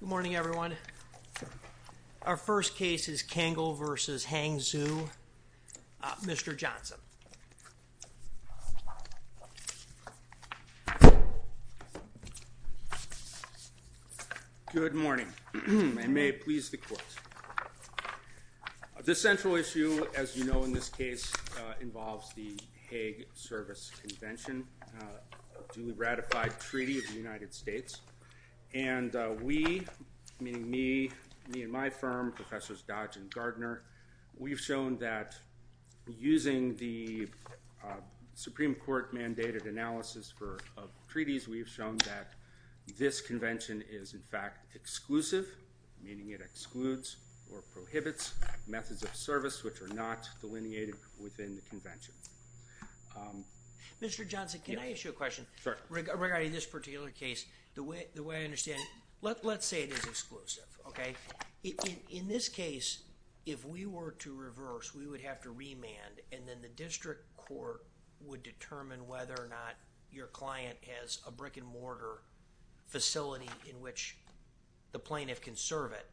Good morning everyone. Our first case is Kangol v. Hangzhou. Mr. Johnson. Good morning. I may please the court. The central issue as you know in this case involves the Hague Service Convention, a duly ratified treaty of the United States, and we, meaning me and my firm, Professors Dodge and Gardner, we've shown that using the Supreme Court mandated analysis for treaties we've shown that this convention is in fact exclusive, meaning it excludes or prohibits methods of service which are not delineated within the convention. Mr. Johnson, can I The way I understand it, let's say it is exclusive, okay? In this case, if we were to reverse, we would have to remand and then the district court would determine whether or not your client has a brick-and-mortar facility in which the plaintiff can serve it,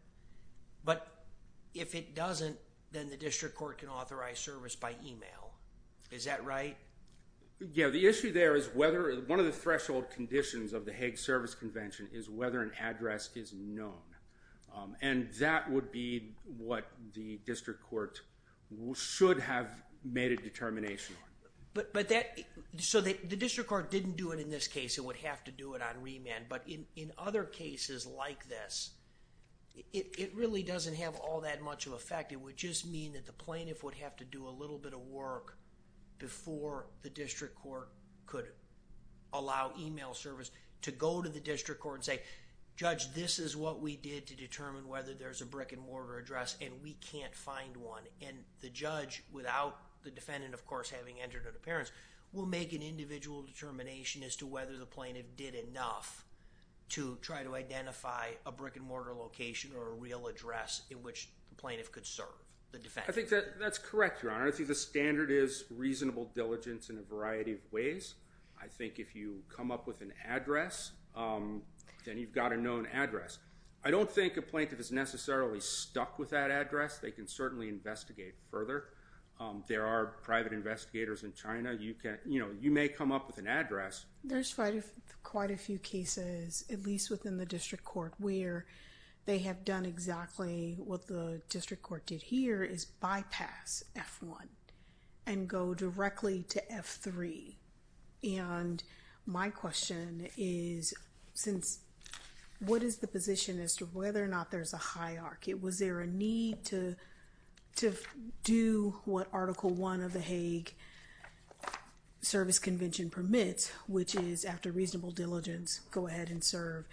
but if it doesn't, then the district court can authorize service by email. Is that right? Yeah, the issue there is whether one of the threshold conditions of the Hague Service Convention is whether an address is known, and that would be what the district court should have made a determination on. But that, so the district court didn't do it in this case, it would have to do it on remand, but in other cases like this, it really doesn't have all that much of effect. It would just mean that the plaintiff would have to do a little bit of work before the district court could allow email service to go to the district court and say, Judge, this is what we did to determine whether there's a brick-and-mortar address and we can't find one. And the judge, without the defendant of course having entered an appearance, will make an individual determination as to whether the plaintiff did enough to try to identify a brick-and-mortar location or a real address in which the plaintiff could serve the defendant. I think that that's correct, Your Honor. I think the standard is reasonable diligence in a variety of ways. I think if you come up with an address, then you've got a known address. I don't think a plaintiff is necessarily stuck with that address. They can certainly investigate further. There are private investigators in China. You can, you know, you may come up with an address. There's quite a few cases, at least within the district court, where they have done exactly what the district court did here is bypass F1 and go directly to F3. And my question is, since what is the position as to whether or not there's a hierarchy? Was there a need to do what Article 1 of the Hague Service Convention permits, which is after reasonable diligence, go ahead and serve,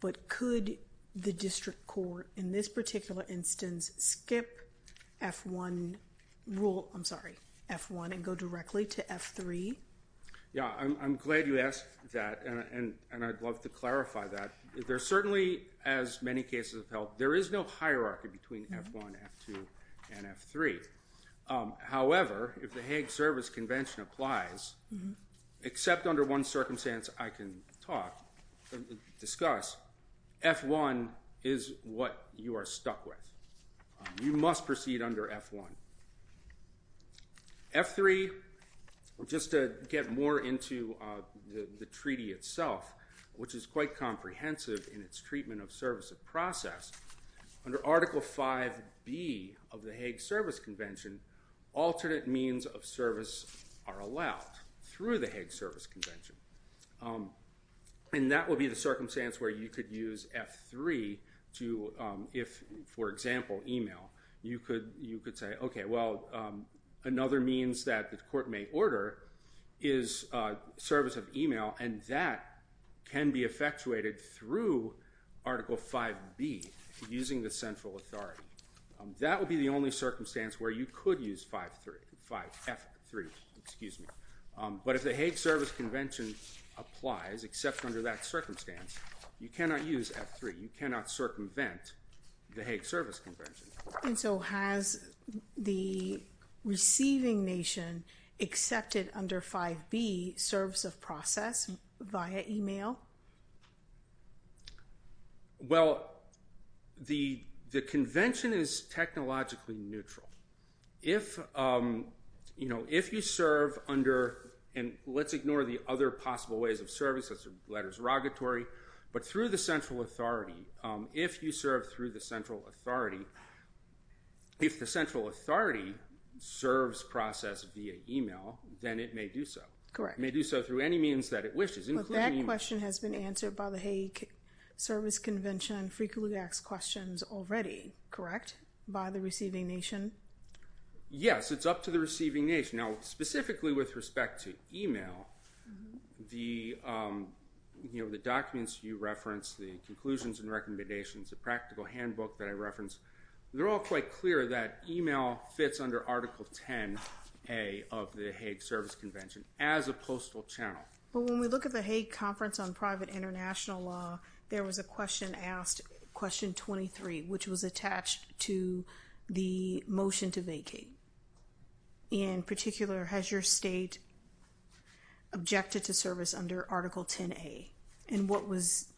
but could the district court in this particular instance skip F1 rule, I'm sorry, F1 and go directly to F3? Yeah, I'm glad you asked that, and I'd love to clarify that. There's certainly, as many cases of health, there is no hierarchy between F1, F2, and F3. However, if the Hague Service Convention applies, except under one circumstance I can talk, discuss, F1 is what you are stuck with. You must proceed under F1. F3, just to get more into the treaty itself, which is quite comprehensive in its treatment of service of process, under Article 5B of the Hague Service Convention, alternate means of service are allowed through the Hague Service Convention. And that will be the circumstance where you could use F3 to, if, for example, email, you could say, okay, well, another means that the court may order is service of email, and that can be effectuated through Article 5B, using the central authority. That would be the only circumstance where you could use 5, F3, excuse me. But if the Hague Service Convention applies, except under that circumstance, you cannot use F3. You cannot circumvent the Hague Service Convention. And so has the receiving nation accepted under 5B service of process via email? Well, the convention is technologically neutral. If you serve under, and let's ignore the other possible ways of service, such as letters of regulatory, but through the central authority, if you serve through the central authority, if the do so through any means that it wishes, including email. But that question has been answered by the Hague Service Convention and frequently asked questions already, correct, by the receiving nation? Yes, it's up to the receiving nation. Now, specifically with respect to email, the documents you referenced, the conclusions and recommendations, the practical handbook that I referenced, they're all quite clear that email fits under Article 10A of the Hague Service Convention as a postal channel. But when we look at the Hague Conference on Private International Law, there was a question asked, question 23, which was attached to the motion to vacate. In particular, has your state objected to service under Article 10A? And what was,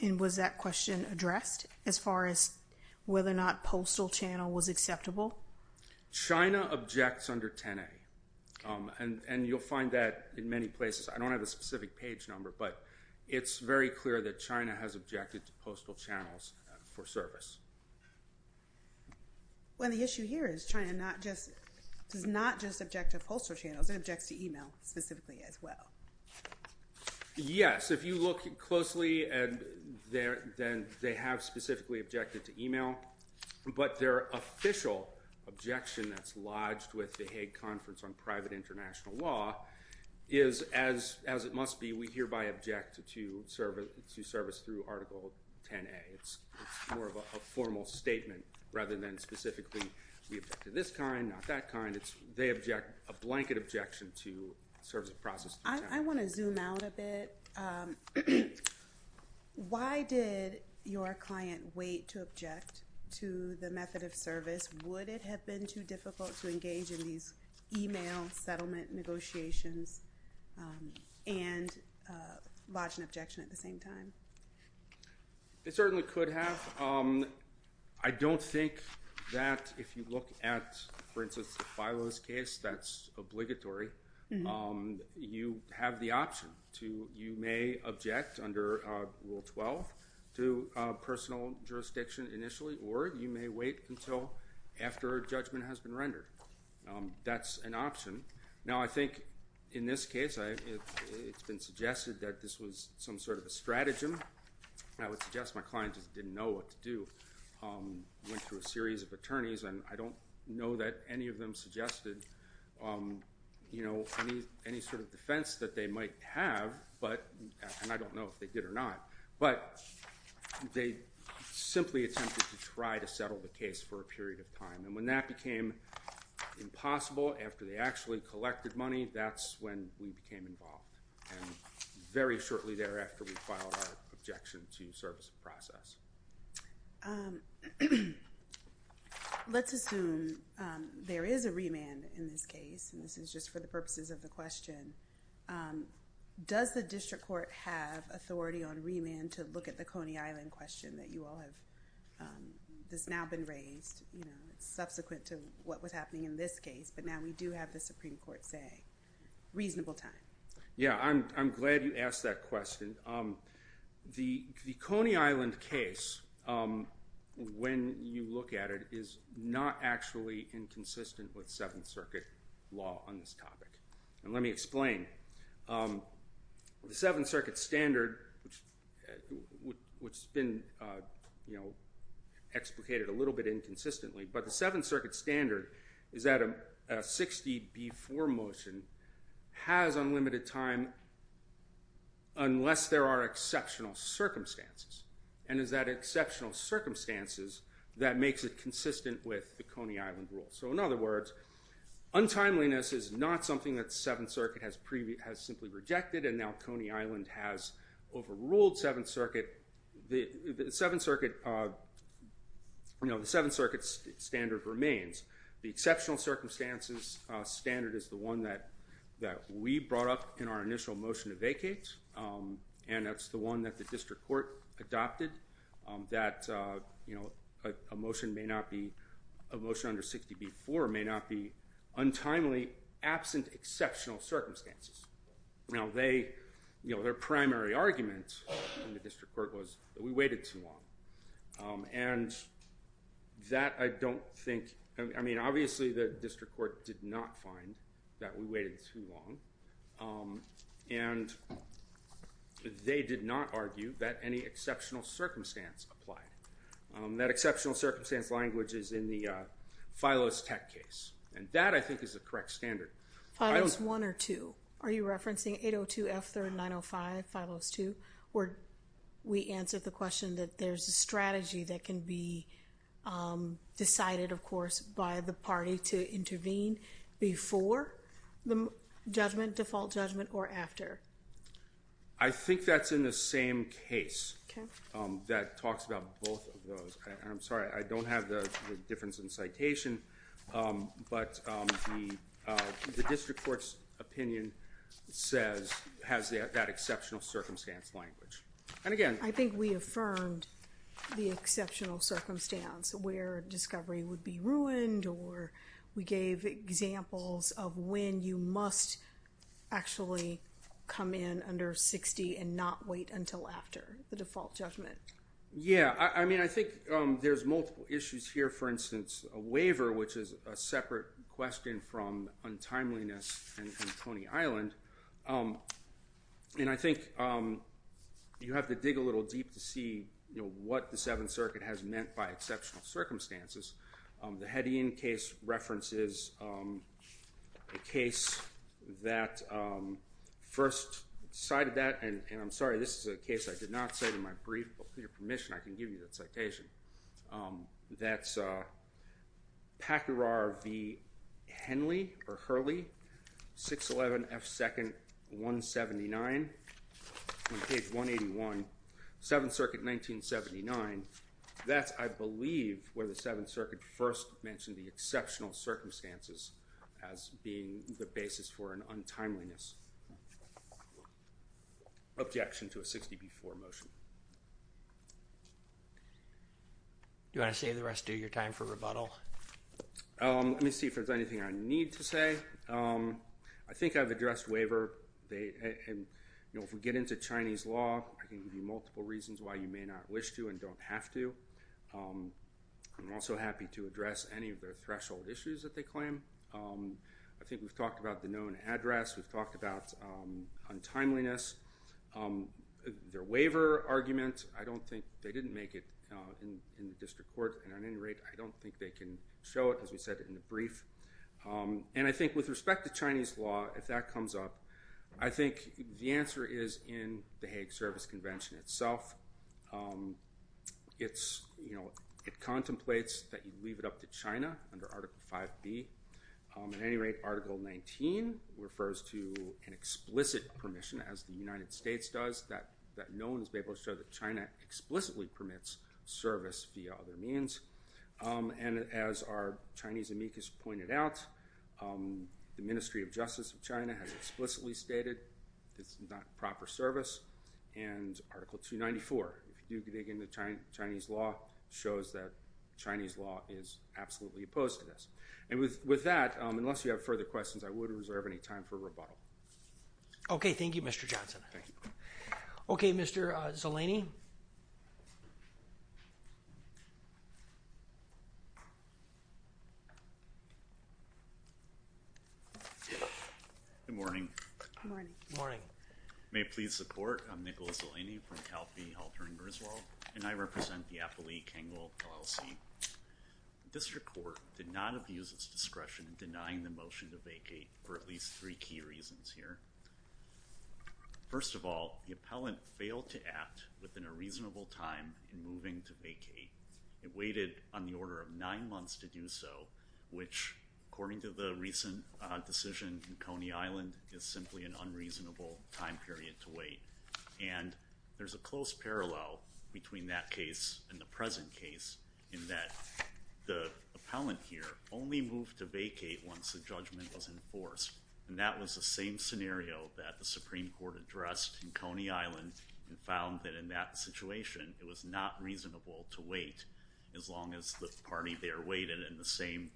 and was that question addressed as far as whether or not postal channel was China objects under 10A, and you'll find that in many places. I don't have a specific page number, but it's very clear that China has objected to postal channels for service. Well, and the issue here is China not just, does not just object to postal channels, it objects to email specifically as well. Yes, if you look closely, they have specifically objected to email, but their official objection that's lodged with the Hague Conference on Private International Law is, as it must be, we hereby object to service through Article 10A. It's more of a formal statement rather than specifically we object to this kind, not that kind. It's, they object, a blanket objection to service of process through 10A. I want to zoom out a bit. Why did your client wait to object to the method of service? Would it have been too difficult to engage in these email settlement negotiations and lodge an objection at the same time? It certainly could have. I don't think that if you look at, for instance, the filers case, that's obligatory. You have the option to, you may object under Rule 12 to personal jurisdiction initially, or you may wait until after judgment has been rendered. That's an option. Now, I think in this case, it's been suggested that this was some sort of a stratagem. I would suggest my client just didn't know what to do, went through a series of attorneys, and I don't know that any of them suggested, you know, any sort of defense that they might have, and I don't know if they did or not, but they simply attempted to try to settle the case for a period of time. And when that became impossible after they actually collected money, that's when we became involved. And very shortly thereafter, we filed our objection to service of process. Let's assume there is a remand in this case, and this is just for the purposes of the question. Does the district court have authority on remand to look at the Coney Island question that you all have, that's now been raised, you know, subsequent to what was happening in this case, but now we do have the Supreme Court say, reasonable time. Yeah, I'm glad you asked that question. The Coney Island case, when you look at it, is not actually inconsistent with this topic, and let me explain. The Seventh Circuit standard, which has been, you know, explicated a little bit inconsistently, but the Seventh Circuit standard is that a 60-B-4 motion has unlimited time unless there are exceptional circumstances, and it's that exceptional circumstances that makes it not something that Seventh Circuit has simply rejected, and now Coney Island has overruled Seventh Circuit. The Seventh Circuit standard remains. The exceptional circumstances standard is the one that we brought up in our initial motion to vacate, and that's the one that the district court adopted, that, you know, a motion may not be, a motion under 60-B-4 may not be untimely absent exceptional circumstances. Now, they, you know, their primary argument in the district court was that we waited too long, and that I don't think, I mean, obviously the district court did not find that we waited too long, and they did not argue that any exceptional circumstance applied. That exceptional circumstance language is in the FILOS tech case, and that, I think, is the correct standard. FILOS 1 or 2? Are you referencing 802 F-3905, FILOS 2, where we answered the question that there's a strategy that can be decided, of course, by the party to I think that's in the same case that talks about both of those. I'm sorry, I don't have the difference in citation, but the district court's opinion says, has that exceptional circumstance language. And again, I think we affirmed the exceptional circumstance where discovery would be ruined, or we gave examples of when you must actually come in under 60 and not wait until after the default judgment. Yeah, I mean, I think there's multiple issues here. For instance, a waiver, which is a separate question from untimeliness and Tony Island, and I think you have to dig a little deep to see what the Seventh Circuit has meant by a case that first cited that, and I'm sorry, this is a case I did not say in my brief, but with your permission, I can give you that citation. That's Packerar v. Henley or Hurley, 611 F. 2nd, 179, page 181, Seventh Circuit, 1979. That's, I believe, where the Seventh Circuit first mentioned the exceptional circumstances as being the basis for an untimeliness objection to a 60B4 motion. Do you want to save the rest of your time for rebuttal? Let me see if there's anything I need to say. I think I've addressed waiver. If we get into Chinese law, I can give you multiple reasons why you may not wish to and don't have to. I'm also happy to address any of the threshold issues that they claim. I think we've talked about the known address. We've talked about untimeliness. Their waiver argument, I don't think they didn't make it in the district court, and at any rate, I don't think they can show it, as we said in the brief. And I think with respect to Chinese law, if that comes up, I think the answer is in the Hague Service Convention itself. It contemplates that you leave it up to China under Article 5B. At any rate, Article 19 refers to an explicit permission, as the United States does, that no one has been able to show that China explicitly permits service via other means. And as our Chinese amicus pointed out, the Ministry of Justice of China has explicitly stated it's not proper service. And Article 294, if you dig into Chinese law, shows that Chinese law is absolutely opposed to this. And with that, unless you have further questions, I would reserve any time for rebuttal. OK, thank you, Mr. Johnson. OK, Mr. Zeleny. Good morning. Good morning. May it please the court, I'm Nicholas Zeleny from Cal P. Halter and Griswold, and I represent the Appalachian LLC. The district court did not abuse its discretion in denying the motion to vacate for at least three key reasons here. First of all, the appellant failed to act within a reasonable time in moving to vacate. It waited on the order of nine months to do so, which, according to the recent decision in Coney Island, is simply an unreasonable time period to wait. And there's a close parallel between that case and the present case in that the appellant here only moved to vacate once the judgment was enforced. And that was the same scenario that the Supreme Court addressed in Coney Island and found that in that situation, it was not reasonable to wait as long as the party there waited and the same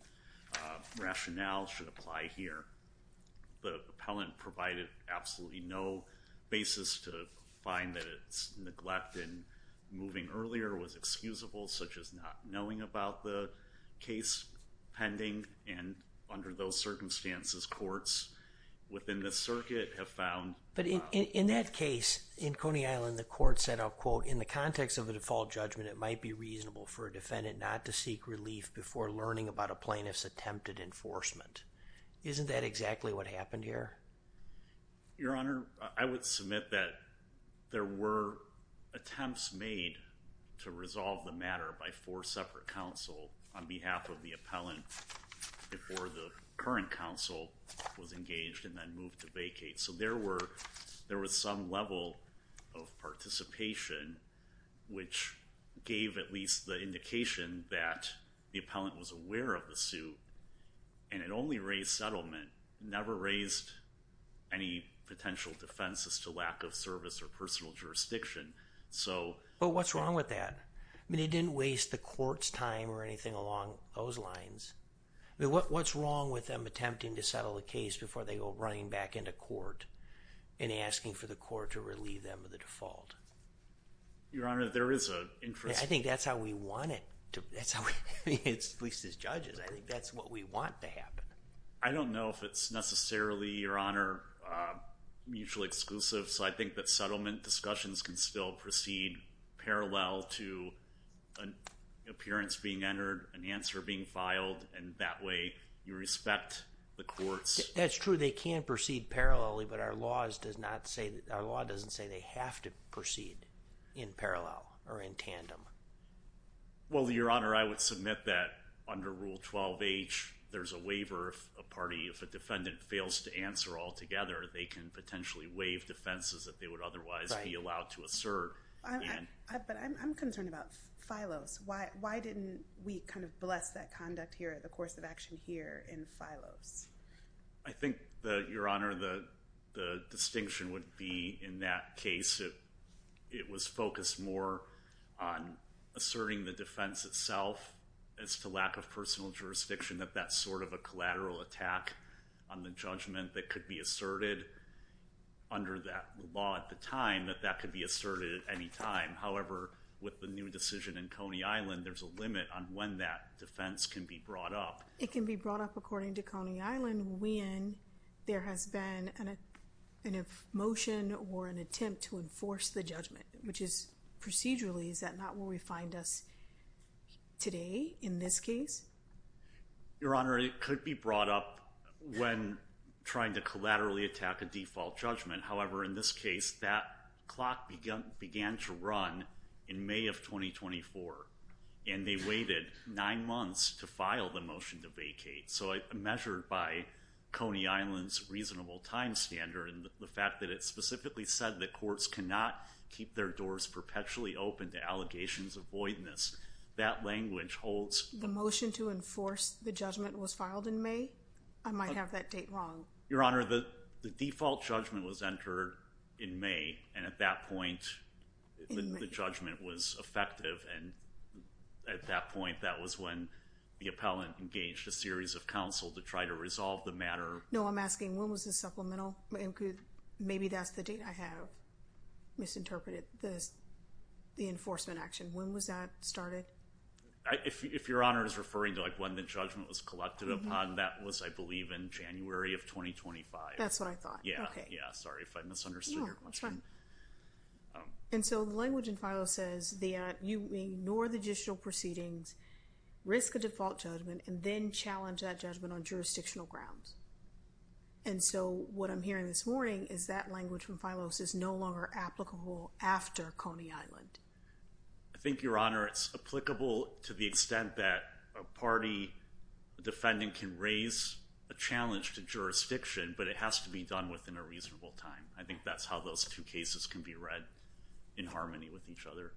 rationale should apply here. The appellant provided absolutely no basis to find that its neglect in moving earlier was excusable, such as not knowing about the case pending. And under those circumstances, courts within the circuit have found... But in that case in Coney Island, the court said, I'll quote, in the context of a default judgment, it might be reasonable for a defendant not to seek relief before learning about a plaintiff's attempted enforcement. Isn't that exactly what happened here? Your Honor, I would submit that there were attempts made to resolve the matter by four separate counsel on behalf of the appellant before the current counsel was engaged and then moved to vacate. So there were some level of participation, which gave at least the indication that the appellant was aware of the suit and it only raised settlement, never raised any potential defense as to lack of service or personal jurisdiction. But what's wrong with that? I mean, it didn't waste the court's time or anything along those lines. What's wrong with them attempting to settle the case before they go running back into court and asking for the court to relieve them of the default? Your Honor, there is an interest... I think that's how we want it. At least as judges, I think that's what we want to happen. I don't know if it's necessarily, Your Honor, mutually exclusive. So I think that settlement discussions can still proceed parallel to an appearance being entered, an answer being filed, and that way you respect the court's... That's true, they can proceed parallelly, but our law doesn't say they have to proceed in parallel or in tandem. Well, Your Honor, I would submit that under Rule 12H, there's a waiver if a defendant fails to answer altogether, they can potentially waive defenses that they would otherwise be allowed to assert. But I'm concerned about Phylos. Why didn't we bless that conduct here in the course of action here in Phylos? I think, Your Honor, the distinction would be in that case, it was focused more on asserting the defense itself as to lack of personal jurisdiction, that that's sort of a collateral attack on the judgment that could be asserted under that law at the time, that that could be asserted at any time. However, with the new decision in Coney Island, there's a limit on when that defense can be brought up. It can be brought up according to Coney Island when there has been a motion or an attempt to enforce the judgment, which is procedurally, is that not where we find us today in this case? Your Honor, it could be brought up when trying to collaterally attack a default judgment. However, in this case, that clock began to run in May of 2024, and they waited nine months to file the motion to vacate. So measured by Coney Island's reasonable time standard and the fact that it specifically said that courts cannot keep their doors perpetually open to allegations of voidness, that language holds. The motion to enforce the judgment was filed in May? I might have that date wrong. Your Honor, the default judgment was entered in May, and at that point the judgment was effective, and at that point, that was when the appellant engaged a series of counsel to try to resolve the matter. No, I'm asking, when was this supplemental? Maybe that's the date I have misinterpreted the enforcement action. When was that started? If Your Honor is referring to when the judgment was collected upon, that was, I believe, in January of 2025. That's what I thought. Yeah, sorry if I misunderstood. No, that's fine. And so the language in Phylos says that you ignore the judicial proceedings, risk a default judgment, and then challenge that judgment on jurisdictional grounds. And so, what I'm hearing this morning is that language from Phylos is no longer applicable after Coney Island. I think, Your Honor, it's applicable to the extent that a party defendant can raise a challenge to jurisdiction, but it has to be done within a reasonable time. I think that's how those two cases can be read in harmony with each other.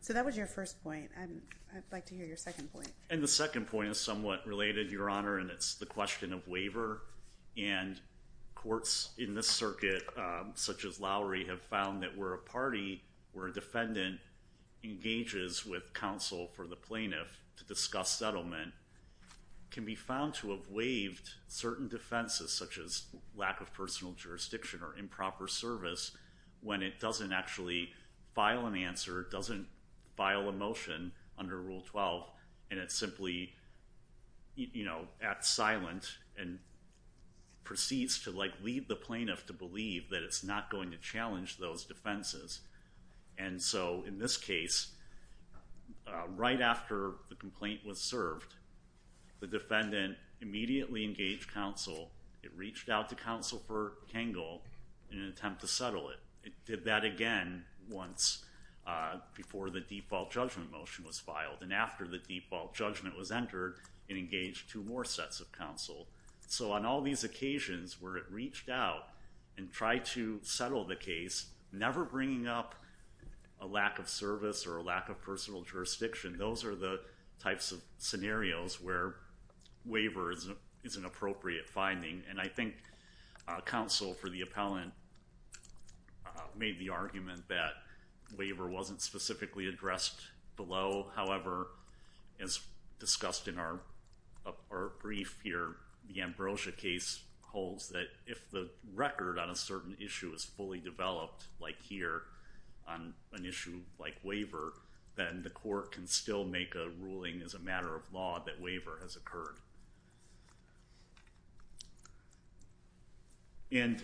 So that was your first point. I'd like to hear your second point. And the second point is somewhat related, Your Honor, and it's the question of waiver. And courts in this circuit, such as Lowry, have found that where a party, where a defendant engages with counsel for the plaintiff to discuss settlement, can be found to have waived certain defenses, such as lack of personal jurisdiction or improper service, when it doesn't actually file an answer, it doesn't file a motion under Rule 12, and it simply acts silent and proceeds to lead the plaintiff to believe that it's not going to challenge those defenses. And so, in this case, right after the complaint was served, the defendant immediately engaged counsel, it reached out to counsel for Tangle in an attempt to settle it. It did that again once before the default judgment motion was filed, and after the default judgment was entered, it engaged two more sets of counsel. So on all these occasions where it reached out and tried to settle the case, never bringing up a lack of service or a lack of personal jurisdiction, those are the types of scenarios where waiver is an appropriate finding. And I think counsel for the appellant made the argument that waiver wasn't specifically addressed below. However, as discussed in our brief here, the Ambrosia case holds that if the record on a certain issue is fully developed, like here, on an issue like waiver, then the court can still make a ruling as a matter of law that waiver has occurred. And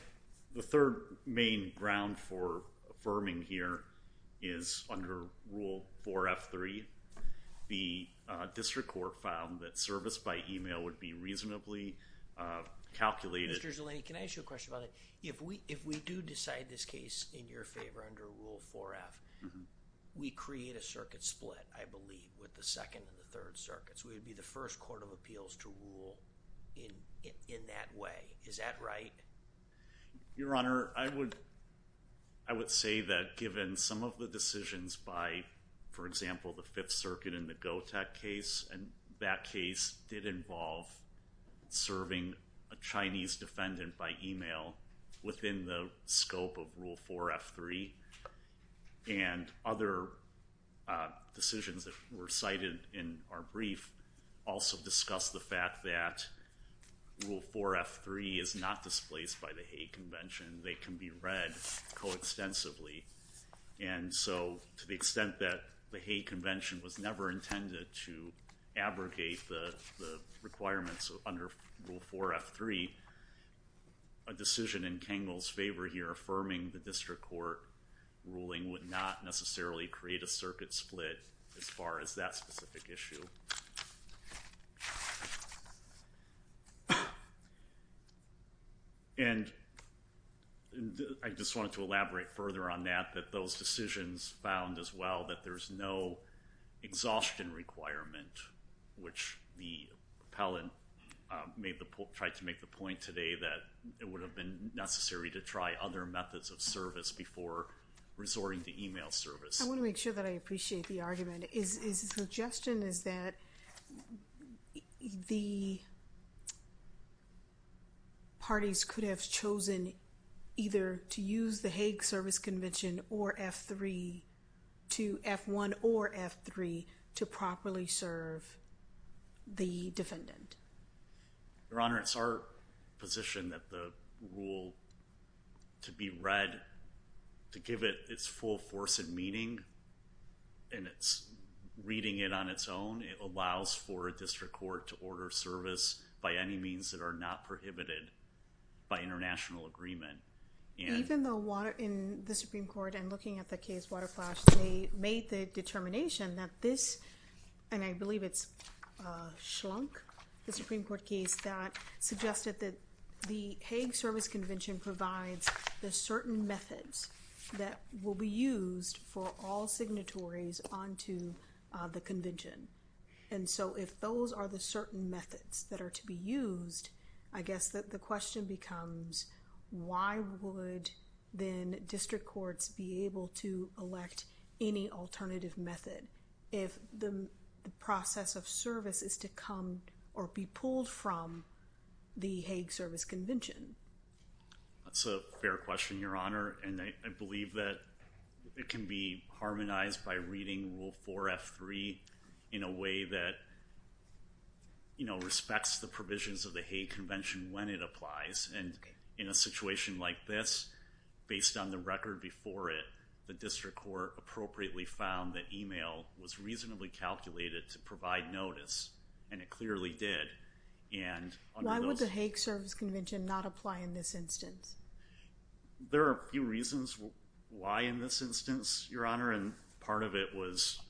the third main ground for affirming here is under Rule 4F3, the district court found that service by email would be reasonably calculated. Mr. Zeleny, can I ask you a question about that? If we do decide this case in your favor under Rule 4F, we create a circuit split, I believe, with the Second and the Third Circuits. We would be the first court of appeals to rule in that way. Is that right? Your Honor, I would say that given some of the decisions by, for example, the Fifth Circuit in the Gotek case, and that case did involve serving a Chinese and other decisions that were cited in our brief also discussed the fact that Rule 4F3 is not displaced by the Hague Convention. They can be read co-extensively. And so to the extent that the Hague Convention was never intended to abrogate the requirements under Rule 4F3, a decision in Kengel's favor here affirming the district court ruling would not necessarily create a circuit split as far as that specific issue. And I just wanted to elaborate further on that, that those decisions found as well that there's no exhaustion requirement, which the appellant tried to make the point today that it would have been necessary to try other methods of service before resorting to email service. I want to make sure that I appreciate the argument. His suggestion is that the parties could have chosen either to use the Hague Service Convention or F1 or F3 to properly serve the defendant. Your Honor, it's our position that the rule to be read, to give it its full force and meaning, and it's reading it on its own, it allows for a district court to order service by any means that are not prohibited by international agreement. Even though in the Supreme Court and looking at the case Waterflash, they made the determination that this and I believe it's Schlunk, the Supreme Court case that suggested that the Hague Service Convention provides the certain methods that will be used for all signatories onto the convention. And so if those are the certain methods that are to be used, I guess that the question becomes why would then district courts be able to elect any alternative method if the process of service is to come or be pulled from the Hague Service Convention? That's a fair question, Your Honor. And I believe that it can be harmonized by reading Rule 4F3 in a way that respects the provisions of the Hague Convention when it applies. And in a situation like this, based on the record before it, the district court appropriately found that email was reasonably calculated to provide notice, and it clearly did. Why would the Hague Service Convention not apply in this instance? There are a few reasons why in this instance, Your Honor, and part of it was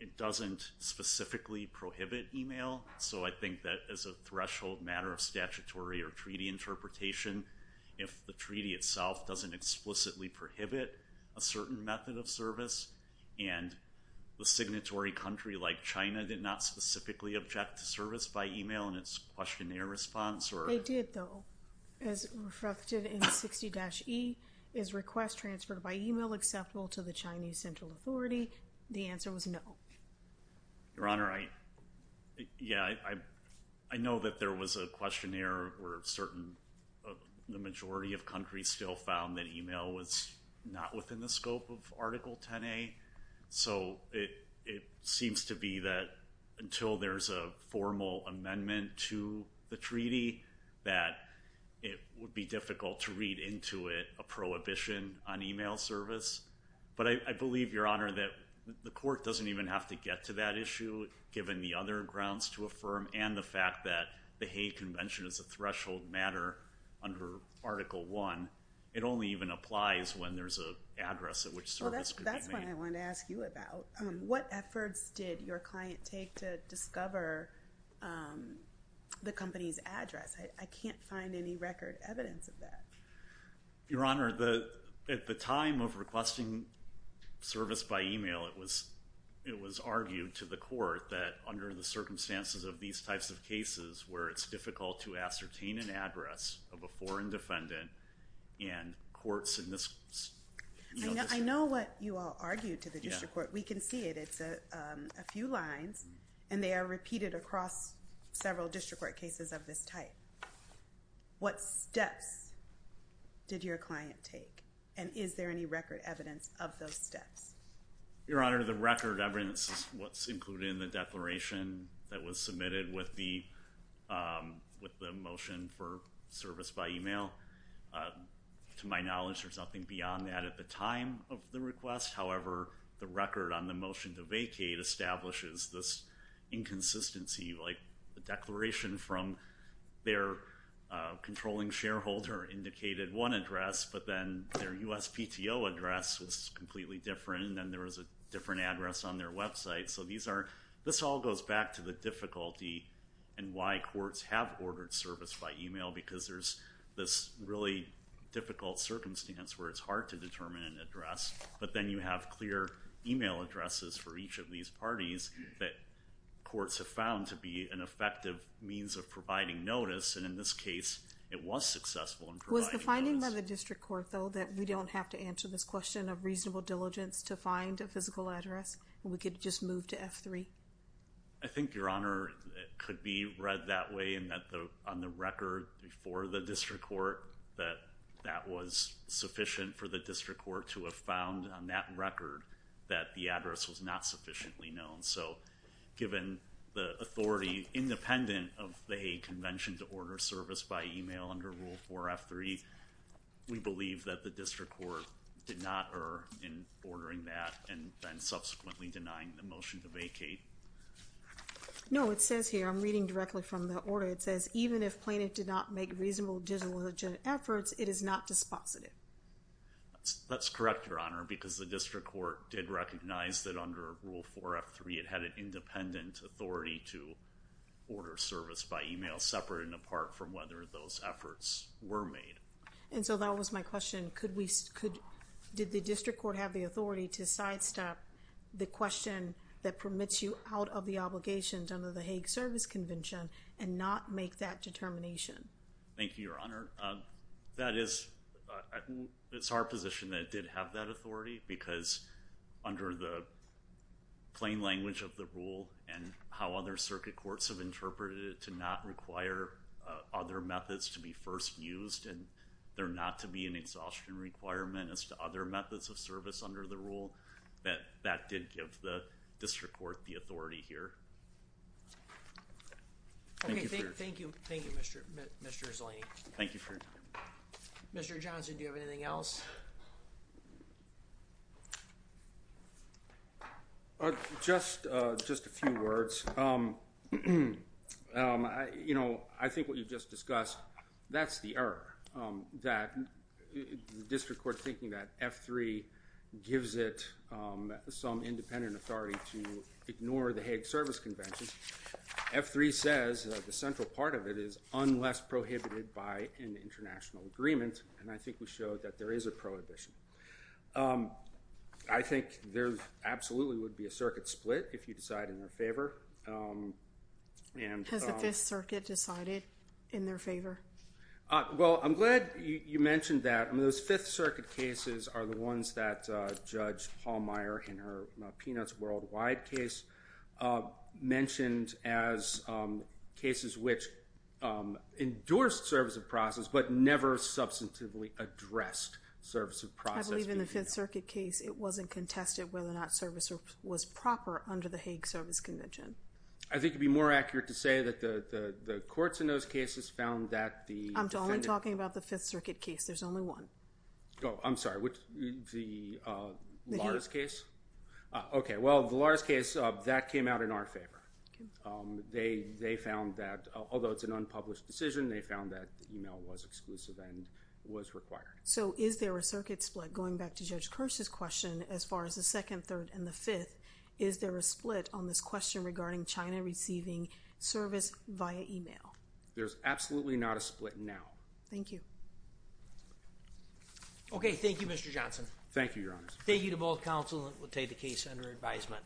it doesn't specifically prohibit email. So I think that as a threshold matter of statutory or treaty interpretation, if the treaty itself doesn't explicitly prohibit a certain method of service, and the signatory country like China did not specifically object to service by email in its questionnaire response, or They did, though. As reflected in 60-E, is request transferred by email acceptable to the Chinese Central Authority? The answer was no. Your Honor, I know that there was a questionnaire where the majority of countries still found that email was not within the scope of Article 10A, so it seems to be that until there's a formal amendment to the treaty, that it would be difficult to read into it a prohibition on email service. But I believe, Your Honor, that the court doesn't even have to get to that issue, given the other grounds to affirm and the fact that the Hague Convention is a threshold matter under Article 1. It only even applies when there's an address at which service could be made. That's what I wanted to ask you about. What efforts did your client take to discover the company's address? I can't find any record evidence of that. Your Honor, at the time of requesting service by email, it was argued to the court that under the circumstances of these types of cases where it's difficult to ascertain an address of a foreign defendant in courts in this... I know what you all argued to the district court. We can see it. It's a few lines, and they are repeated across several district court cases of this type. What steps did your client take, and is there any record evidence of those steps? Your Honor, the record evidence is what's included in the declaration that was submitted with the motion for service by email. To my knowledge, there's nothing beyond that at the time of the request. However, the record on the motion to vacate establishes this inconsistency. The declaration from their controlling shareholder indicated one address, but then their USPTO address was completely different, and then there was a different address on their website. This all goes back to the difficulty in why courts have ordered service by email because there's this really difficult circumstance where it's hard to determine an address, but then you have clear email addresses for each of these parties that courts have found to be an effective means of providing notice, and in this case, it was successful in providing notice. I mean by the district court, though, that we don't have to answer this question of reasonable diligence to find a physical address. We could just move to F3. I think, Your Honor, it could be read that way and that on the record before the district court that that was sufficient for the district court to have found on that record that the address was not sufficiently known. So given the authority independent of the convention to order service by email under Rule 4 F3, we believe that the district court did not err in ordering that and then subsequently denying the motion to vacate. No, it says here I'm reading directly from the order. It says, even if plaintiff did not make reasonable diligence efforts, it is not dispositive. That's correct, Your Honor, because the district court did recognize that under Rule 4 F3 it had an independent authority to order service by email separate and apart from whether those efforts were made. And so that was my question. Could we, did the district court have the authority to sidestep the question that permits you out of the obligations under the Hague Service Convention and not make that determination? Thank you, Your Honor. That is our position that it did have that authority because under the plain language of the rule and how other circuit courts have interpreted it to not require other methods to be first used and there not to be an exhaustion requirement as to other methods of service under the rule that that did give the district court the authority here. Thank you. Thank you. Thank you, Mr. Mr. Thank you for Mr. Johnson. Do you have anything else? Just just a few words. You know, I think what you just discussed, that's the error that the district court thinking that F3 gives it some independent authority to ignore the Hague Service Convention. F3 says the central part of it is unless prohibited by an international agreement. And I think we showed that there is a prohibition. I think there absolutely would be a circuit split if you decide in their favor. Has the Fifth Circuit decided it in their favor? Well, I'm glad you mentioned that those Fifth Circuit cases are the ones that Judge Hallmeyer in her Peanuts Worldwide case mentioned as cases which endorsed service of process but never substantively addressed service of process. I believe in the Fifth Circuit case it wasn't contested whether or not service was proper under the Hague Service Convention. I think it'd be more accurate to say that the courts in those cases found that the. I'm only talking about the Fifth Circuit case. There's only one. Oh, I'm sorry. The Lars case. Okay. Well, the Lars case, that came out in our favor. They found that although it's an unpublished decision, they found that email was exclusive and was required. So is there a circuit split going back to Judge Kirsch's question as far as the second, third, and the fifth? Is there a split on this question regarding China receiving service via email? There's absolutely not a split now. Thank you. Okay. Thank you, Mr. Johnson. Thank you, Your Honor. Thank you to both counsel and we'll take the case under advisement.